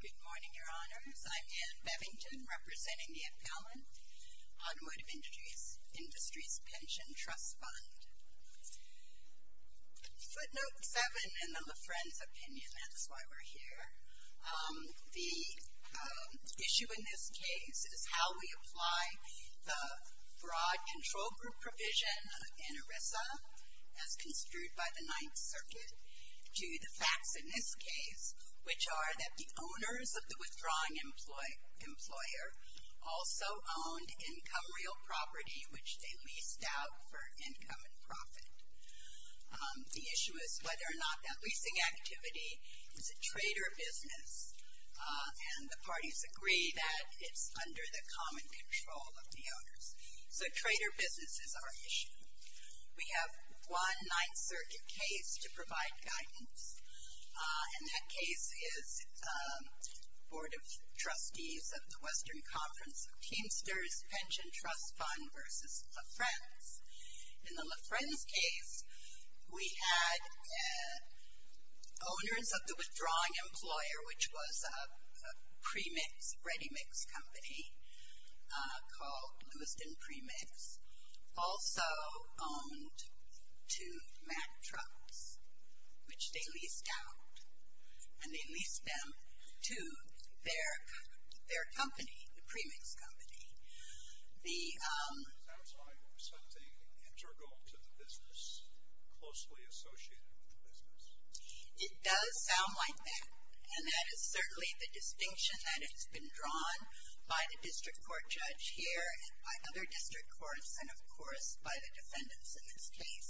Good morning, your honors. I'm Ann Bevington, representing the Appellant on Wood of Industry's Pension Trust Fund. Footnote 7 in the LaFren's opinion, that's why we're here. The issue in this case is how we apply the fraud control group provision in ERISA as construed by the owners of the withdrawing employer also owned income real property which they leased out for income and profit. The issue is whether or not that leasing activity is a trader business, and the parties agree that it's under the common control of the owners. So trader business is our issue. We have one Ninth Circuit case to provide guidance, and that case is Board of Trustees of the Western Conference of Teamsters Pension Trust Fund v. LaFren's. In the LaFren's case, we had owners of the withdrawing employer which was a premix, ready mix company called Lewiston Premix, also owned two Mack trucks which they leased out, and they leased them to their company, the premix company. It sounds like something integral to the business, closely associated with the business. It does sound like that, and that is certainly the distinction that has been drawn by the district courts and, of course, by the defendants in this case.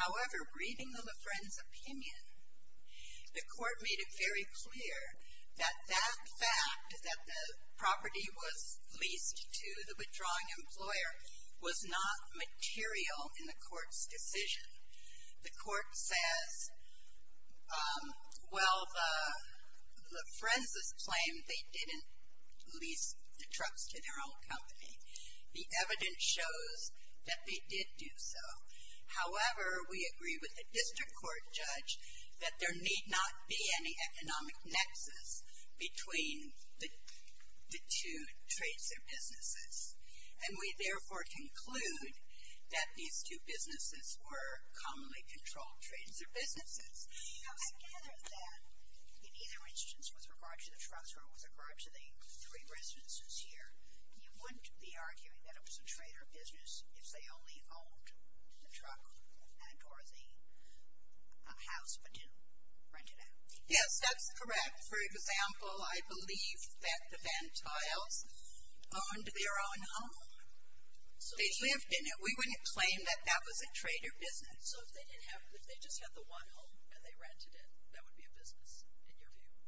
However, reading the LaFren's opinion, the court made it very clear that that fact that the property was leased to the withdrawing employer was not material in the court's decision. The court says, well, LaFren's claim they didn't lease the trucks to their own company. The evidence shows that they did do so. However, we agree with the district court judge that there need not be any economic nexus between the two trades or businesses, and we therefore conclude that these two businesses were commonly controlled trades or businesses. I gather that in either instance, with regard to the trucks or with regard to the three residences here, you wouldn't be arguing that it was a trade or business if they only owned the truck or the house but didn't rent it out. Yes, that's correct. For example, I believe that the Van Tiles owned their own home. They lived in it. We wouldn't claim that that was a trade or business. So if they just had the one home and they rented it, that would be a business, in your view?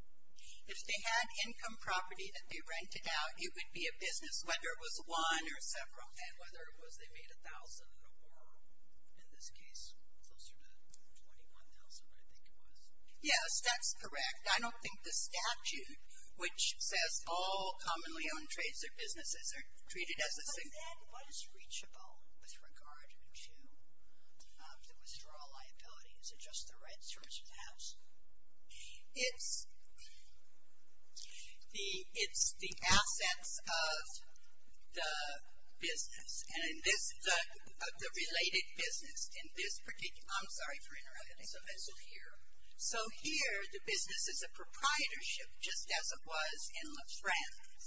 If they had income property that they rented out, it would be a business, whether it was one or several, and whether it was they made $1,000 or more, in this case, closer to $21,000, I think it was. Yes, that's correct. I don't think the statute, which says all commonly owned trades or businesses are treated as a single. But then, what is reachable with regard to the withdrawal liability? Is it just the rents from the house? It's the assets of the business. And in this, the related business in this particular, I'm sorry for interrupting. It's offensive here. So here, the business is a proprietorship, just as it was in LaFrance.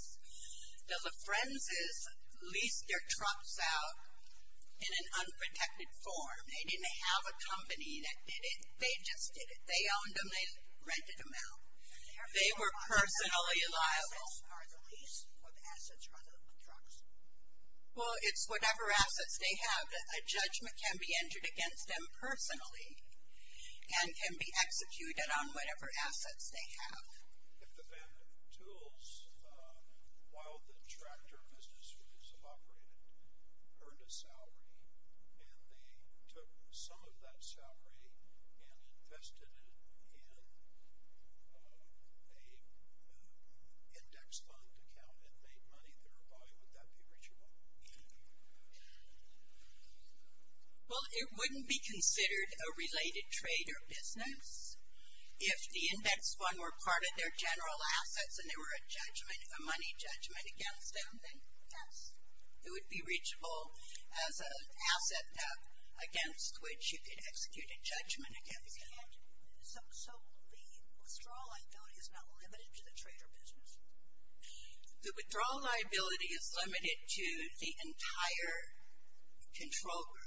The LaFrances leased their trucks out in an unprotected form. They didn't have a company that did it. They just did it. They owned them. They rented them out. They were personally liable. Are the lease or the assets rather than the trucks? Well, it's whatever assets they have. A judgment can be entered against them personally and can be executed on whatever assets they have. If the tools, while the tractor business was operated, earned a salary, and they took some of that salary and invested it in an index fund account and made money thereby, would that be reachable? Well, it wouldn't be considered a related trade or business. If the index fund were part of their general assets and there were a judgment, a money judgment against them, then yes. It would be reachable as an asset against which you could execute a judgment against them. So the withdrawal liability is not limited to the trade or business? The withdrawal liability is limited to the entire control group.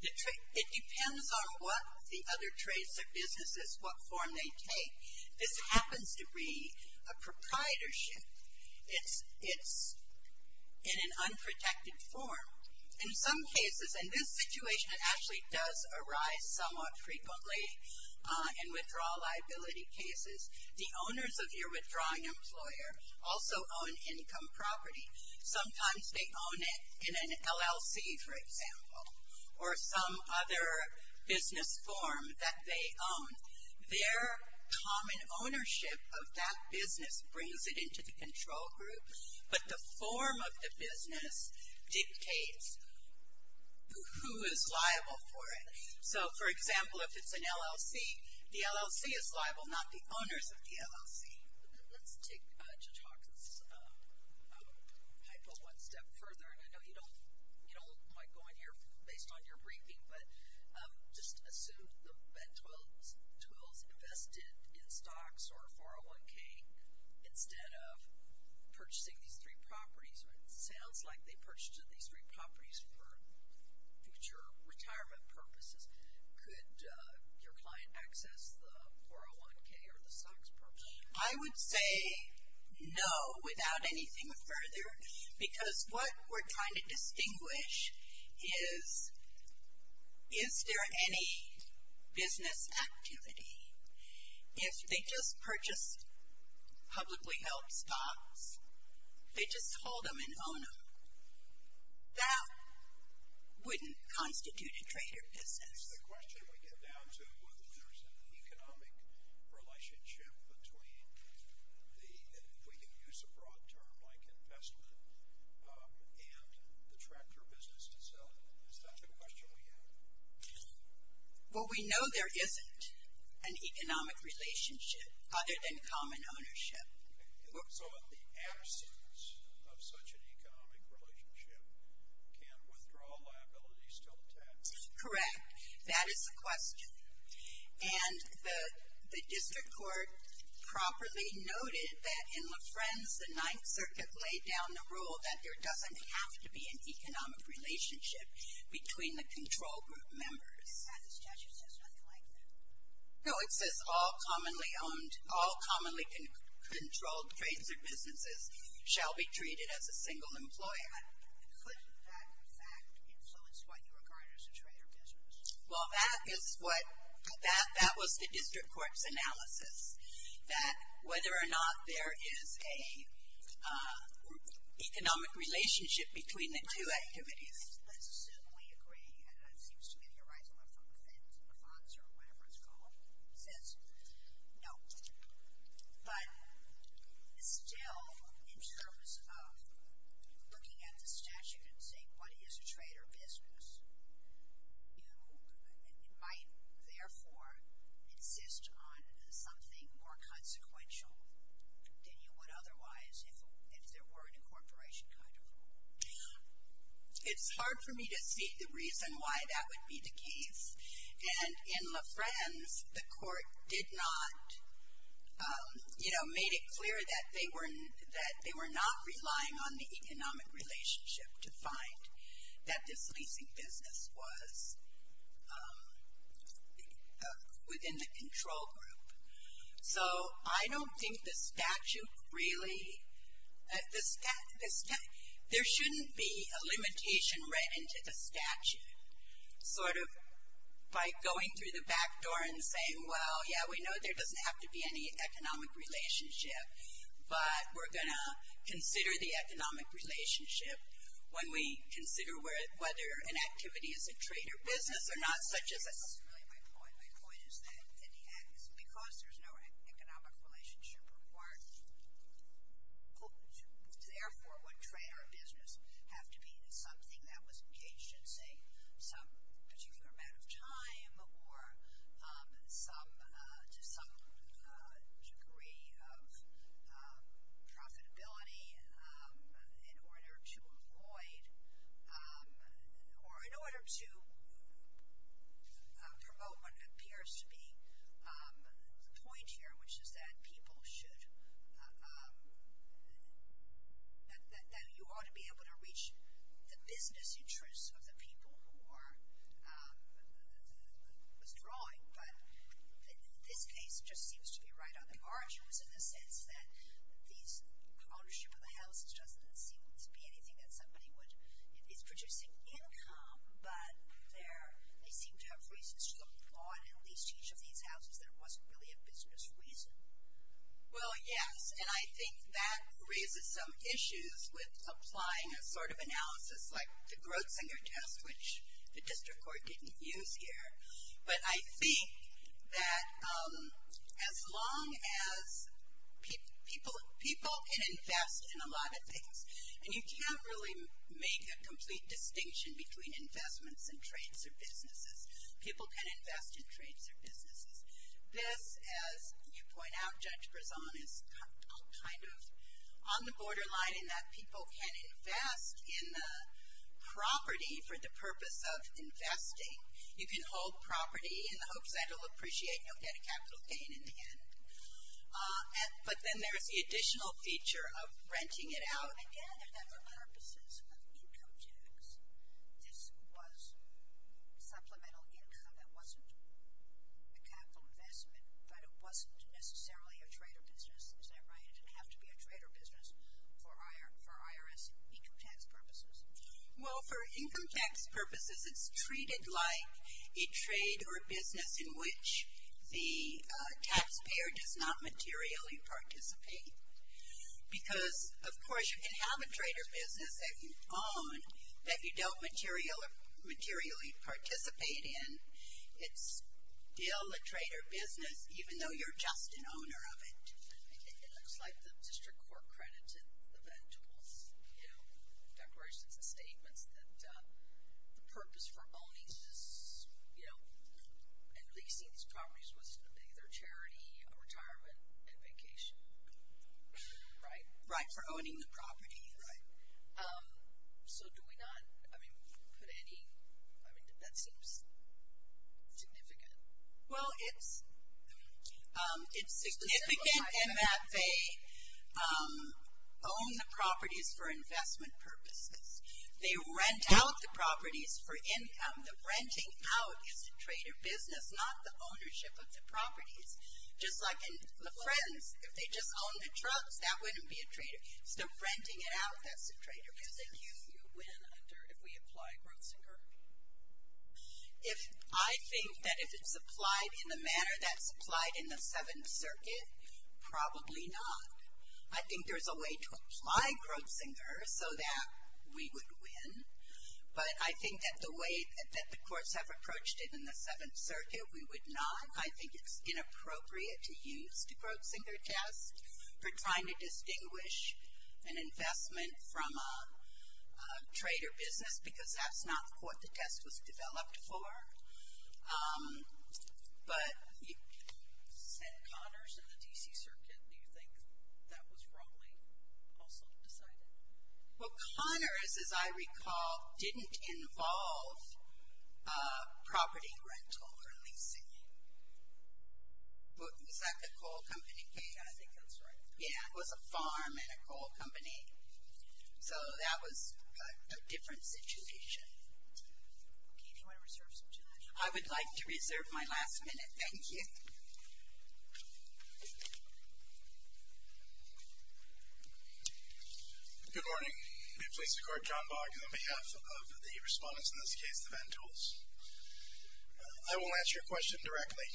It depends on what the other trades or businesses, what form they take. This happens to be a proprietorship. It's in an unprotected form. In some cases, in this situation, it actually does arise somewhat frequently in withdrawal liability cases. The owners of your withdrawing employer also own income property. Sometimes they own it in an LLC, for example, or some other business form that they own. Their common ownership of that business brings it into the control group, but the form of the business dictates who is liable for it. So, for example, if it's an LLC, the LLC is liable, not the owners of the LLC. Let's take Judge Hawkins' hypo one step further, and I know you don't like going here based on your briefing, but just assume the BED-12s invested in stocks or 401K instead of purchasing these three properties. It sounds like they purchased these three properties for future retirement purposes. Could your client access the 401K or the stocks purchase? I would say no, without anything further, because what we're trying to distinguish is, is there any business activity? If they just purchased publicly held stocks, they just hold them and own them. That wouldn't constitute a trader business. It's the question we get down to whether there's an economic relationship between the, if we can use a broad term, like investment, and the tractor business itself. Is that the question we have? Well, we know there isn't an economic relationship other than common ownership. So in the absence of such an economic relationship, can withdrawal liabilities still tax? Correct. That is the question. And the district court properly noted that in LaFrenze, the Ninth Circuit laid down the rule that there doesn't have to be an economic relationship between the control group members. The statute says nothing like that. No, it says all commonly owned, all commonly controlled trades or businesses shall be treated as a single employer. Couldn't that, in fact, influence what you regard as a trader business? Well, that is what, that was the district court's analysis. That whether or not there is a economic relationship between the two activities. I don't necessarily agree. It seems to me that you're rising up from a fence or whatever it's called. It says no. But still, in terms of looking at the statute and saying what is a trader business, you might therefore insist on something more consequential than you would otherwise if there were an incorporation kind of rule. It's hard for me to see the reason why that would be the case. And in LaFrenze, the court did not, you know, made it clear that they were, that they were not relying on the economic relationship to find that this leasing business was within the control group. So I don't think the statute really, there shouldn't be a limitation read into the statute. Sort of by going through the back door and saying, well, yeah, we know there doesn't have to be any economic relationship. But we're going to consider the economic relationship when we consider whether an activity is a trader business or not, such as a. That's really my point. My point is that because there's no economic relationship required, therefore would trader business have to be something that was engaged in, say, some particular amount of time or some degree of profitability in order to avoid or in order to promote what appears to be the point here, which is that people should, that you ought to be able to reach the business interests of the people who are withdrawing. But this case just seems to be right on the margins in the sense that these ownership of the houses doesn't seem to be anything that somebody would, is producing income, but they seem to have reasons to applaud at least each of these houses that it wasn't really a business reason. Well, yes, and I think that raises some issues with applying a sort of analysis like the Grotzinger test, which the district court didn't use here. But I think that as long as people can invest in a lot of things, and you can't really make a complete distinction between investments and trades or businesses. People can invest in trades or businesses. This, as you point out, Judge Grazon, is kind of on the borderline in that people can invest in the property for the purpose of investing. You can hold property in the hopes that it will appreciate and you'll get a capital gain in the end. But then there's the additional feature of renting it out. Again, for purposes of income tax, this was supplemental income. That wasn't a capital investment, but it wasn't necessarily a trade or business. Is that right? It didn't have to be a trade or business for IRS income tax purposes. Well, for income tax purposes, it's treated like a trade or a business in which the taxpayer does not materially participate. Because, of course, you can have a trade or business that you own that you don't materially participate in. It's still a trade or business, even though you're just an owner of it. It looks like the district court credited eventuals, declarations and statements that the purpose for owning and leasing these properties was to make their charity a retirement and vacation. Right? Right, for owning the property. Right. So do we not put any – that seems significant. Well, it's significant in that they own the properties for investment purposes. They rent out the properties for income. The renting out is a trade or business, not the ownership of the properties. Just like in the Friends, if they just owned the trucks, that wouldn't be a trade. So renting it out, that's a trade or business. Do you think you win if we apply gross income? I think that if it's applied in the manner that's applied in the Seventh Circuit, probably not. I think there's a way to apply gross income so that we would win. But I think that the way that the courts have approached it in the Seventh Circuit, we would not. I think it's inappropriate to use the gross income test for trying to distinguish an investment from a trade or business because that's not what the test was developed for. But you said Connors and the D.C. Circuit. Do you think that was wrongly also decided? Well, Connors, as I recall, didn't involve property rental or leasing. Was that the coal company? Yeah, I think that's right. Yeah, it was a farm and a coal company. So that was a different situation. Okay, do you want to reserve some time? I would like to reserve my last minute. Thank you. Good morning. May it please the Court, John Bogg on behalf of the respondents, in this case the Ventules. I will ask you a question directly.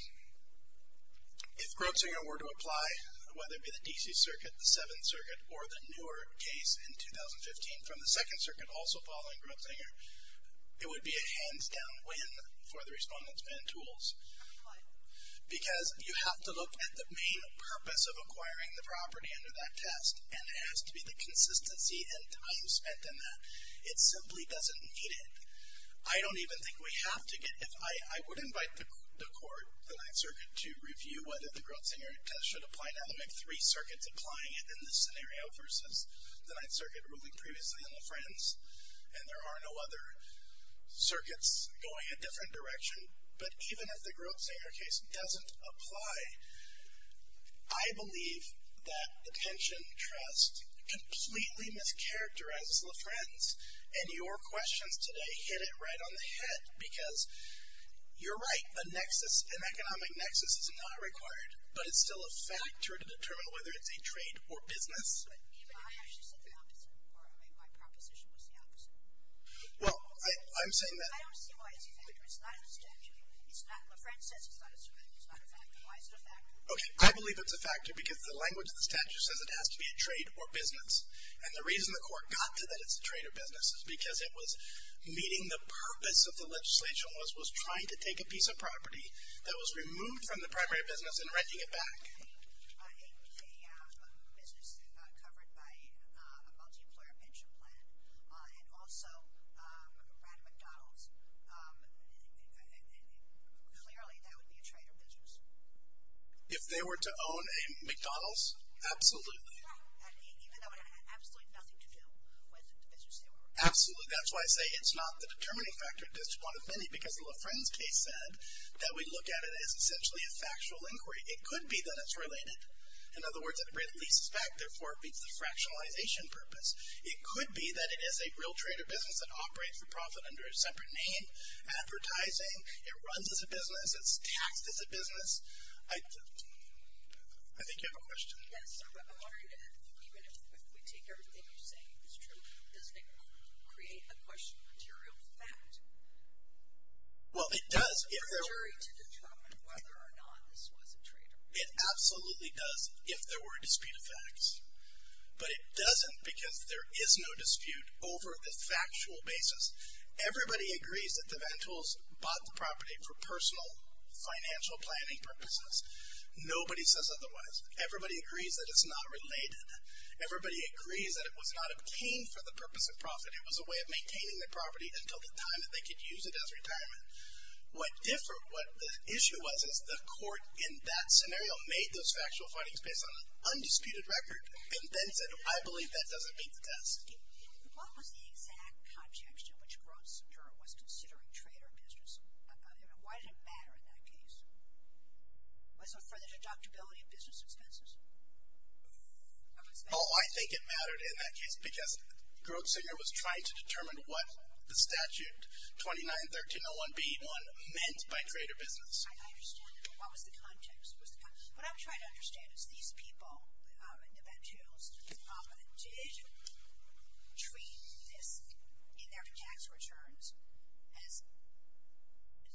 If Grotzinger were to apply, whether it be the D.C. Circuit, the Seventh Circuit, or the newer case in 2015 from the Second Circuit also following Grotzinger, it would be a hands-down win for the respondents, Ventules. Why? Because you have to look at the main purpose of acquiring the property under that test, and it has to be the consistency and time spent in that. It simply doesn't need it. I would invite the Court, the Ninth Circuit, to review whether the Grotzinger test should apply now. There are three circuits applying it in this scenario versus the Ninth Circuit ruling previously in LaFrance, and there are no other circuits going a different direction. But even if the Grotzinger case doesn't apply, I believe that the pension trust completely mischaracterizes LaFrance, and your questions today hit it right on the head because you're right. An economic nexus is not required, but it's still a factor to determine whether it's a trade or business. I actually said the opposite. My proposition was the opposite. Well, I'm saying that... I don't see why it's a factor. It's not in the statute. LaFrance says it's not a factor. Why is it a factor? Okay, I believe it's a factor because the language of the statute says it has to be a trade or business, and the reason the court got to that it's a trade or business is because it was meeting the purpose of the legislation, which was trying to take a piece of property that was removed from the primary business and renting it back. A business covered by a multi-employer pension plan and also ran a McDonald's, clearly that would be a trade or business. If they were to own a McDonald's, absolutely. Even though it had absolutely nothing to do with the business they were running. Absolutely. That's why I say it's not the determining factor, because LaFrance case said that we look at it as essentially a factual inquiry. It could be that it's related. In other words, it releases back, therefore it meets the fractionalization purpose. It could be that it is a real trade or business that operates for profit under a separate name, advertising. It runs as a business. It's taxed as a business. I think you have a question. Yes. I'm wondering if, even if we take everything you're saying is true, does it create a question of material fact? Well, it does. In order to determine whether or not this was a trade or business. It absolutely does if there were a dispute of facts. But it doesn't because there is no dispute over the factual basis. Everybody agrees that the Ventoles bought the property for personal financial planning purposes. Nobody says otherwise. Everybody agrees that it's not related. Everybody agrees that it was not obtained for the purpose of profit. It was a way of maintaining the property until the time that they could use it as retirement. What different, what the issue was is the court in that scenario made those factual findings based on an undisputed record and then said, I believe that doesn't meet the test. What was the exact context in which Grosvenor was considering trade or business? Why did it matter in that case? Was it for the deductibility of business expenses? Oh, I think it mattered in that case because Grosvenor was trying to determine what the statute 29-1301b-1 meant by trade or business. I understand. What was the context? What I'm trying to understand is these people, the Ventoles, did treat this in their tax returns as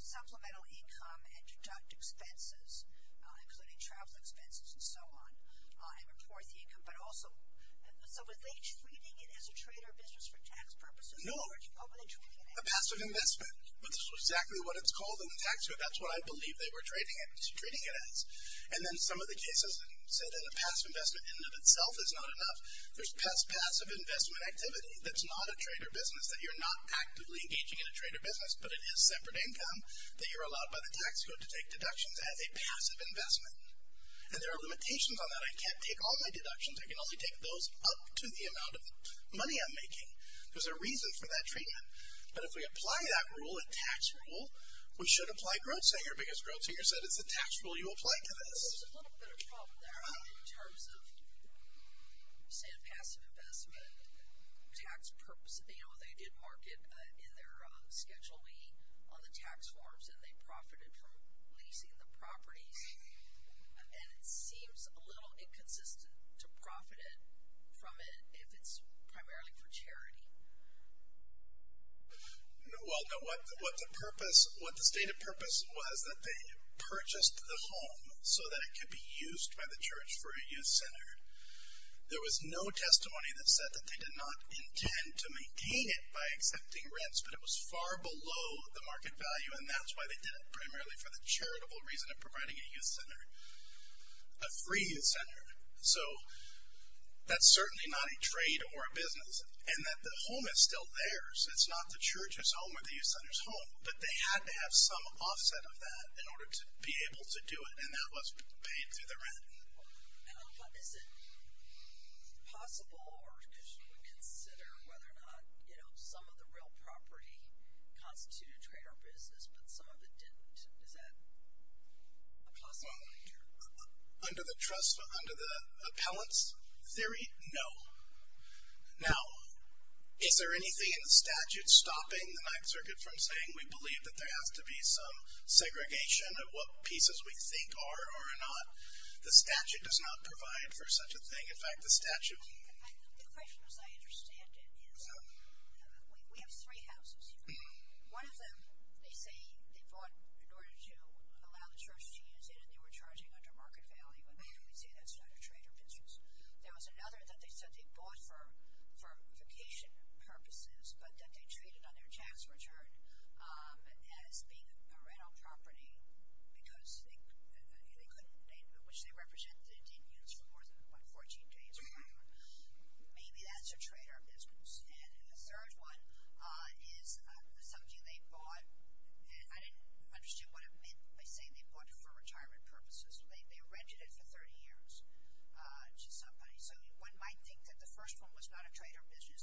supplemental income and deduct expenses, including travel expenses and so on, and report the income. But also, so was they treating it as a trade or business for tax purposes? No. Or were they treating it as? A passive investment. That's exactly what it's called in the tax code. That's what I believe they were treating it as. And then some of the cases say that a passive investment in and of itself is not enough. There's passive investment activity that's not a trade or business, that you're not actively engaging in a trade or business, but it is separate income that you're allowed by the tax code to take deductions as a passive investment. And there are limitations on that. I can't take all my deductions. I can only take those up to the amount of money I'm making. There's a reason for that treatment. But if we apply that rule, a tax rule, we should apply Grosvenor because Grosvenor said it's a tax rule you apply to this. There's a little bit of a problem there in terms of, say, passive investment tax purpose. They did market in their Schedule E on the tax forms and they profited from leasing the properties. And it seems a little inconsistent to profit from it if it's primarily for charity. What the stated purpose was that they purchased the home so that it could be used by the church for a youth center. There was no testimony that said that they did not intend to maintain it by accepting rents, but it was far below the market value, and that's why they did it, primarily for the charitable reason of providing a youth center, a free youth center. So that's certainly not a trade or a business, and that the home is still theirs. It's not the church's home or the youth center's home, but they had to have some offset of that in order to be able to do it, and that was paid through the rent. Is it possible or could you consider whether or not, you know, some of the real property constituted trade or business, but some of it didn't? Is that a possible future? Under the trust, under the appellant's theory, no. Now, is there anything in the statute stopping the Ninth Circuit from saying we believe that there has to be some segregation of what pieces we think are or are not? The statute does not provide for such a thing. In fact, the statute... The question, as I understand it, is we have three houses here. One of them, they say they bought in order to allow the church to use it and they were charging under market value, and we say that's not a trade or business. There was another that they said they bought for vacation purposes, but that they traded on their tax return as being a rental property because they couldn't... which they represented Indians for more than, what, 14 days or whatever. Maybe that's a trade or business. And the third one is something they bought. I didn't understand what it meant by saying they bought it for retirement purposes. They rented it for 30 years to somebody. So one might think that the first one was not a trade or business,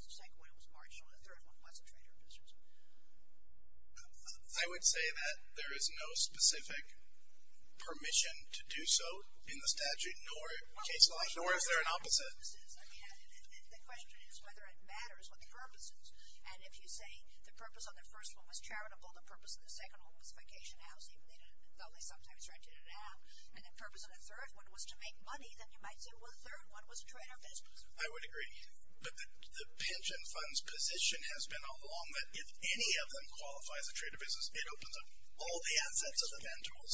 I would say that there is no specific permission to do so in the statute, nor is there an opposite. The question is whether it matters what the purpose is. And if you say the purpose of the first one was charitable, the purpose of the second one was vacation housing, though they sometimes rented it out, and the purpose of the third one was to make money, then you might say, well, the third one was a trade or business. I would agree. But the pension fund's position has been all along that if any of them qualifies a trade or business, it opens up all the assets of the Vantools.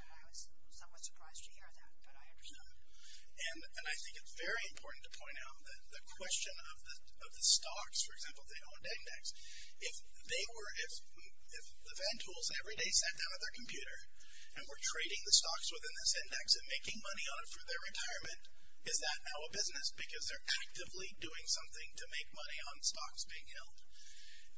I was somewhat surprised to hear that, but I understand. And I think it's very important to point out that the question of the stocks, for example, if they owned index, if the Vantools every day sat down at their computer and were trading the stocks within this index and making money on it for their retirement, is that now a business? Because they're actively doing something to make money on stocks being held.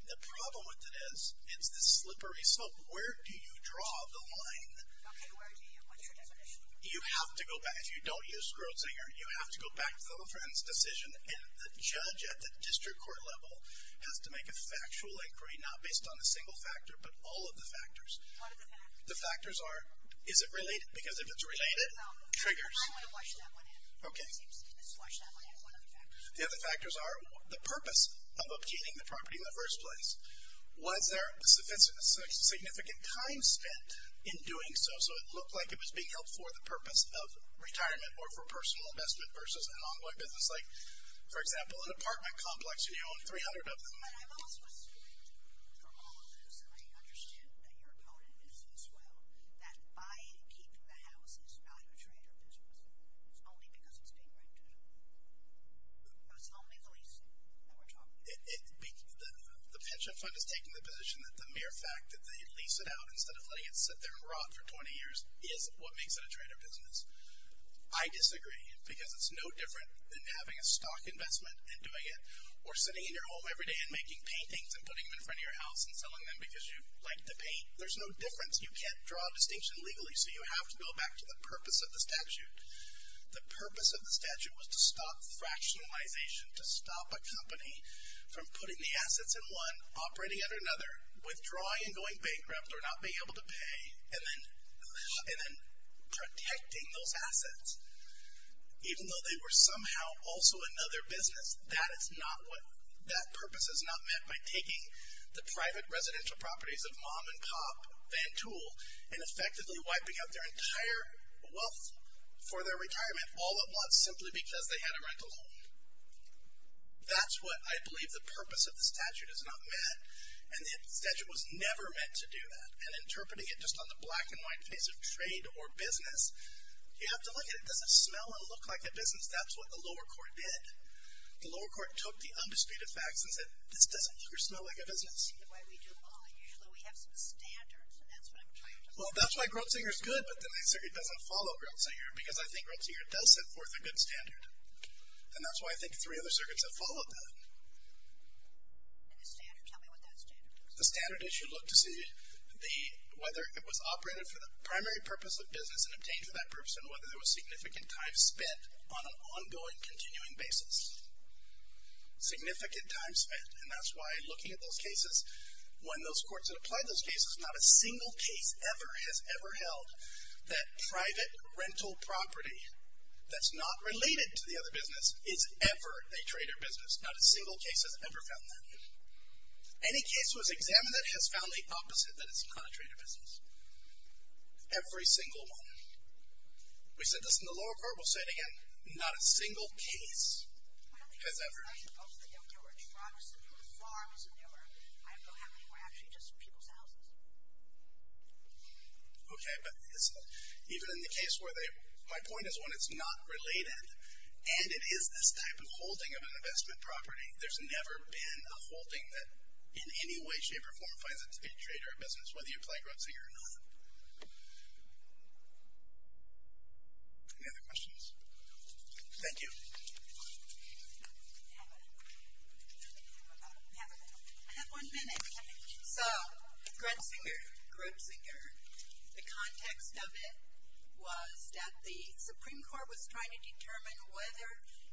The problem with it is it's this slippery slope. Where do you draw the line? Okay, where do you? What's your definition? You have to go back. If you don't use Schrodinger, you have to go back to the LaFrance decision, and the judge at the district court level has to make a factual inquiry, not based on a single factor, but all of the factors. What are the factors? The factors are, is it related? Because if it's related, triggers. I want to flush that one in. Okay. Let's flush that one in. What are the factors? The other factors are the purpose of obtaining the property in the first place. Was there significant time spent in doing so, so it looked like it was being held for the purpose of retirement or for personal investment versus an ongoing business? Like, for example, an apartment complex, and you own 300 of them. But I'm also assuming from all of those, and I understand that your opponent is as well, that buying and keeping the house is not a trader business. It's only because it's being rented. It's only the lease that we're talking about. The pension fund is taking the position that the mere fact that they lease it out instead of letting it sit there and rot for 20 years is what makes it a trader business. I disagree, because it's no different than having a stock investment and doing it or sitting in your home every day and making paintings and putting them in front of your house and selling them because you like the paint. There's no difference. You can't draw a distinction legally, so you have to go back to the purpose of the statute. The purpose of the statute was to stop fractionalization, to stop a company from putting the assets in one, operating under another, withdrawing and going bankrupt or not being able to pay, and then protecting those assets, even though they were somehow also another business. That purpose is not met by taking the private residential properties of mom and pop, Van Toole, and effectively wiping out their entire wealth for their retirement all at once simply because they had a rental home. That's what I believe the purpose of the statute is not met, and the statute was never meant to do that. And interpreting it just on the black and white face of trade or business, you have to look at it. Does it smell and look like a business? That's what the lower court did. The lower court took the undisputed facts and said, this doesn't look or smell like a business. The way we do law, usually we have some standards, and that's what I'm trying to say. Well, that's why Grotzinger's good, but then the circuit doesn't follow Grotzinger because I think Grotzinger does set forth a good standard, and that's why I think three other circuits have followed that. And the standard, tell me what that standard is. The standard is you look to see whether it was operated for the primary purpose of business and obtained for that purpose, and whether there was significant time spent on an ongoing, continuing basis. Significant time spent, and that's why looking at those cases, when those courts had applied those cases, not a single case ever has ever held that private rental property that's not related to the other business is ever a trade or business. Not a single case has ever found that. Any case that was examined that has found the opposite, that it's not a trade or business. Every single one. We said this in the lower court. We'll say it again. Not a single case has ever. I suppose they don't do it. Toronto's the new farm is the newer. I don't know how many were actually just people's houses. Okay, but even in the case where they, my point is when it's not related, and it is this type of holding of an investment property, there's never been a holding that in any way, shape, or form finds it to be a trade or a business, whether you apply Grotzinger or not. Any other questions? Thank you. I have one minute. So Grotzinger, the context of it was that the Supreme Court was trying to determine whether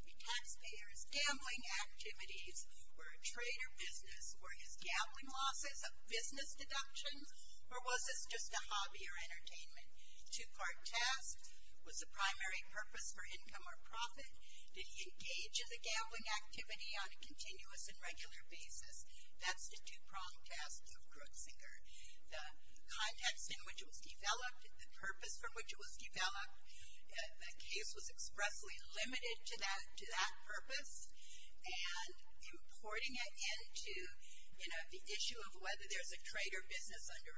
the taxpayer's gambling activities were a trade or business. Were his gambling losses business deductions, or was this just a hobby or entertainment? Two-part test, was the primary purpose for income or profit? Did he engage in the gambling activity on a continuous and regular basis? That's the two-pronged test of Grotzinger. The context in which it was developed, the purpose from which it was developed, the case was expressly limited to that purpose, and importing it into the issue of whether there's a trade or business under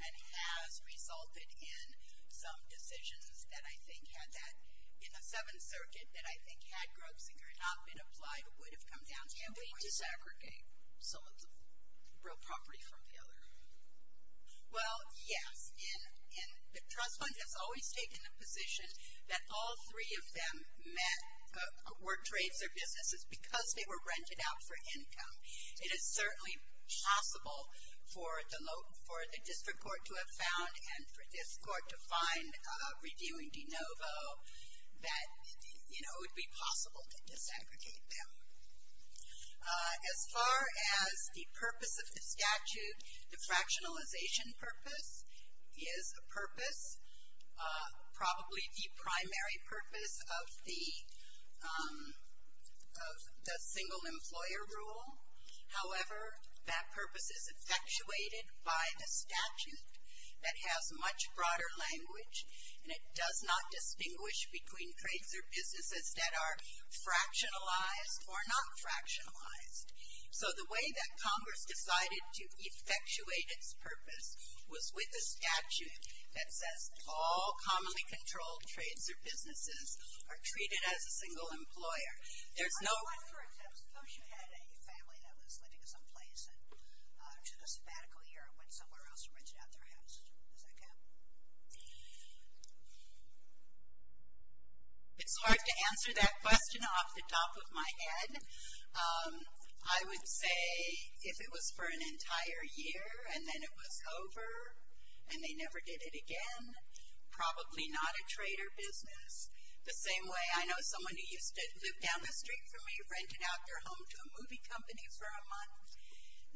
And has resulted in some decisions that I think had that, in the Seventh Circuit, that I think had Grotzinger not been applied, would have come down to gambling. Can we disaggregate some of the real property from the other? Well, yes. And the trust fund has always taken the position that all three of them met, were trades or businesses because they were rented out for income. It is certainly possible for the district court to have found and for this court to find reviewing de novo that, you know, it would be possible to disaggregate them. As far as the purpose of the statute, the fractionalization purpose is a purpose, probably the primary purpose of the single employer rule. However, that purpose is effectuated by the statute that has much broader language, and it does not distinguish between trades or businesses that are fractionalized or not fractionalized. So the way that Congress decided to effectuate its purpose was with a statute that says all commonly controlled trades or businesses are treated as a single employer. There's no. I'm just wondering if you had a family that was living someplace and to the sabbatical year went somewhere else and rented out their house. Does that count? It's hard to answer that question off the top of my head. I would say if it was for an entire year and then it was over and they never did it again, probably not a trade or business. The same way I know someone who used to live down the street from me, rented out their home to a movie company for a month.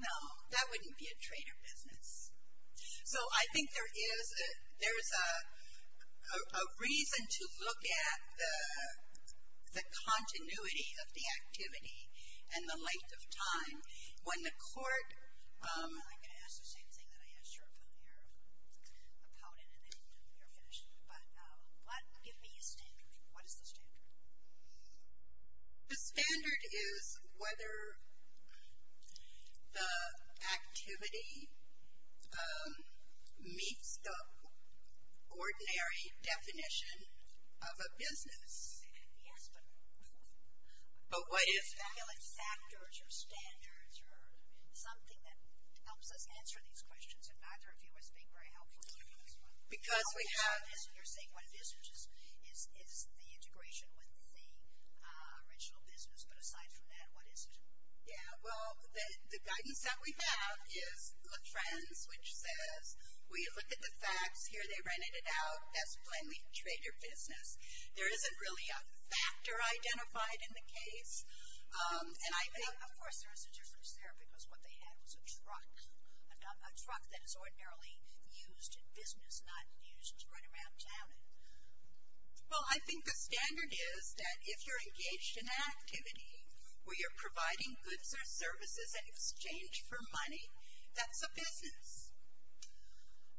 No, that wouldn't be a trade or business. So I think there is a reason to look at the continuity of the activity and the length of time. When the court. I'm going to ask the same thing that I asked your opponent and then you're finished. But give me a standard. What is the standard? The standard is whether the activity meets the ordinary definition of a business. Yes, but. But what if. Speculate factors or standards or something that helps us answer these questions. And neither of you is being very helpful in answering this one. Because we have. You're saying what it is, which is the integration with the original business. But aside from that, what is it? Yeah, well, the guidance that we have is LaFrance, which says, we look at the facts, here they rented it out, that's plainly trade or business. There isn't really a factor identified in the case. And I think. Of course, there is a difference there, because what they had was a truck. A truck that is ordinarily used in business, not used right around town. Well, I think the standard is that if you're engaged in activity, where you're providing goods or services in exchange for money, that's a business.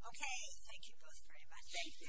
Okay, thank you both very much. Thank you.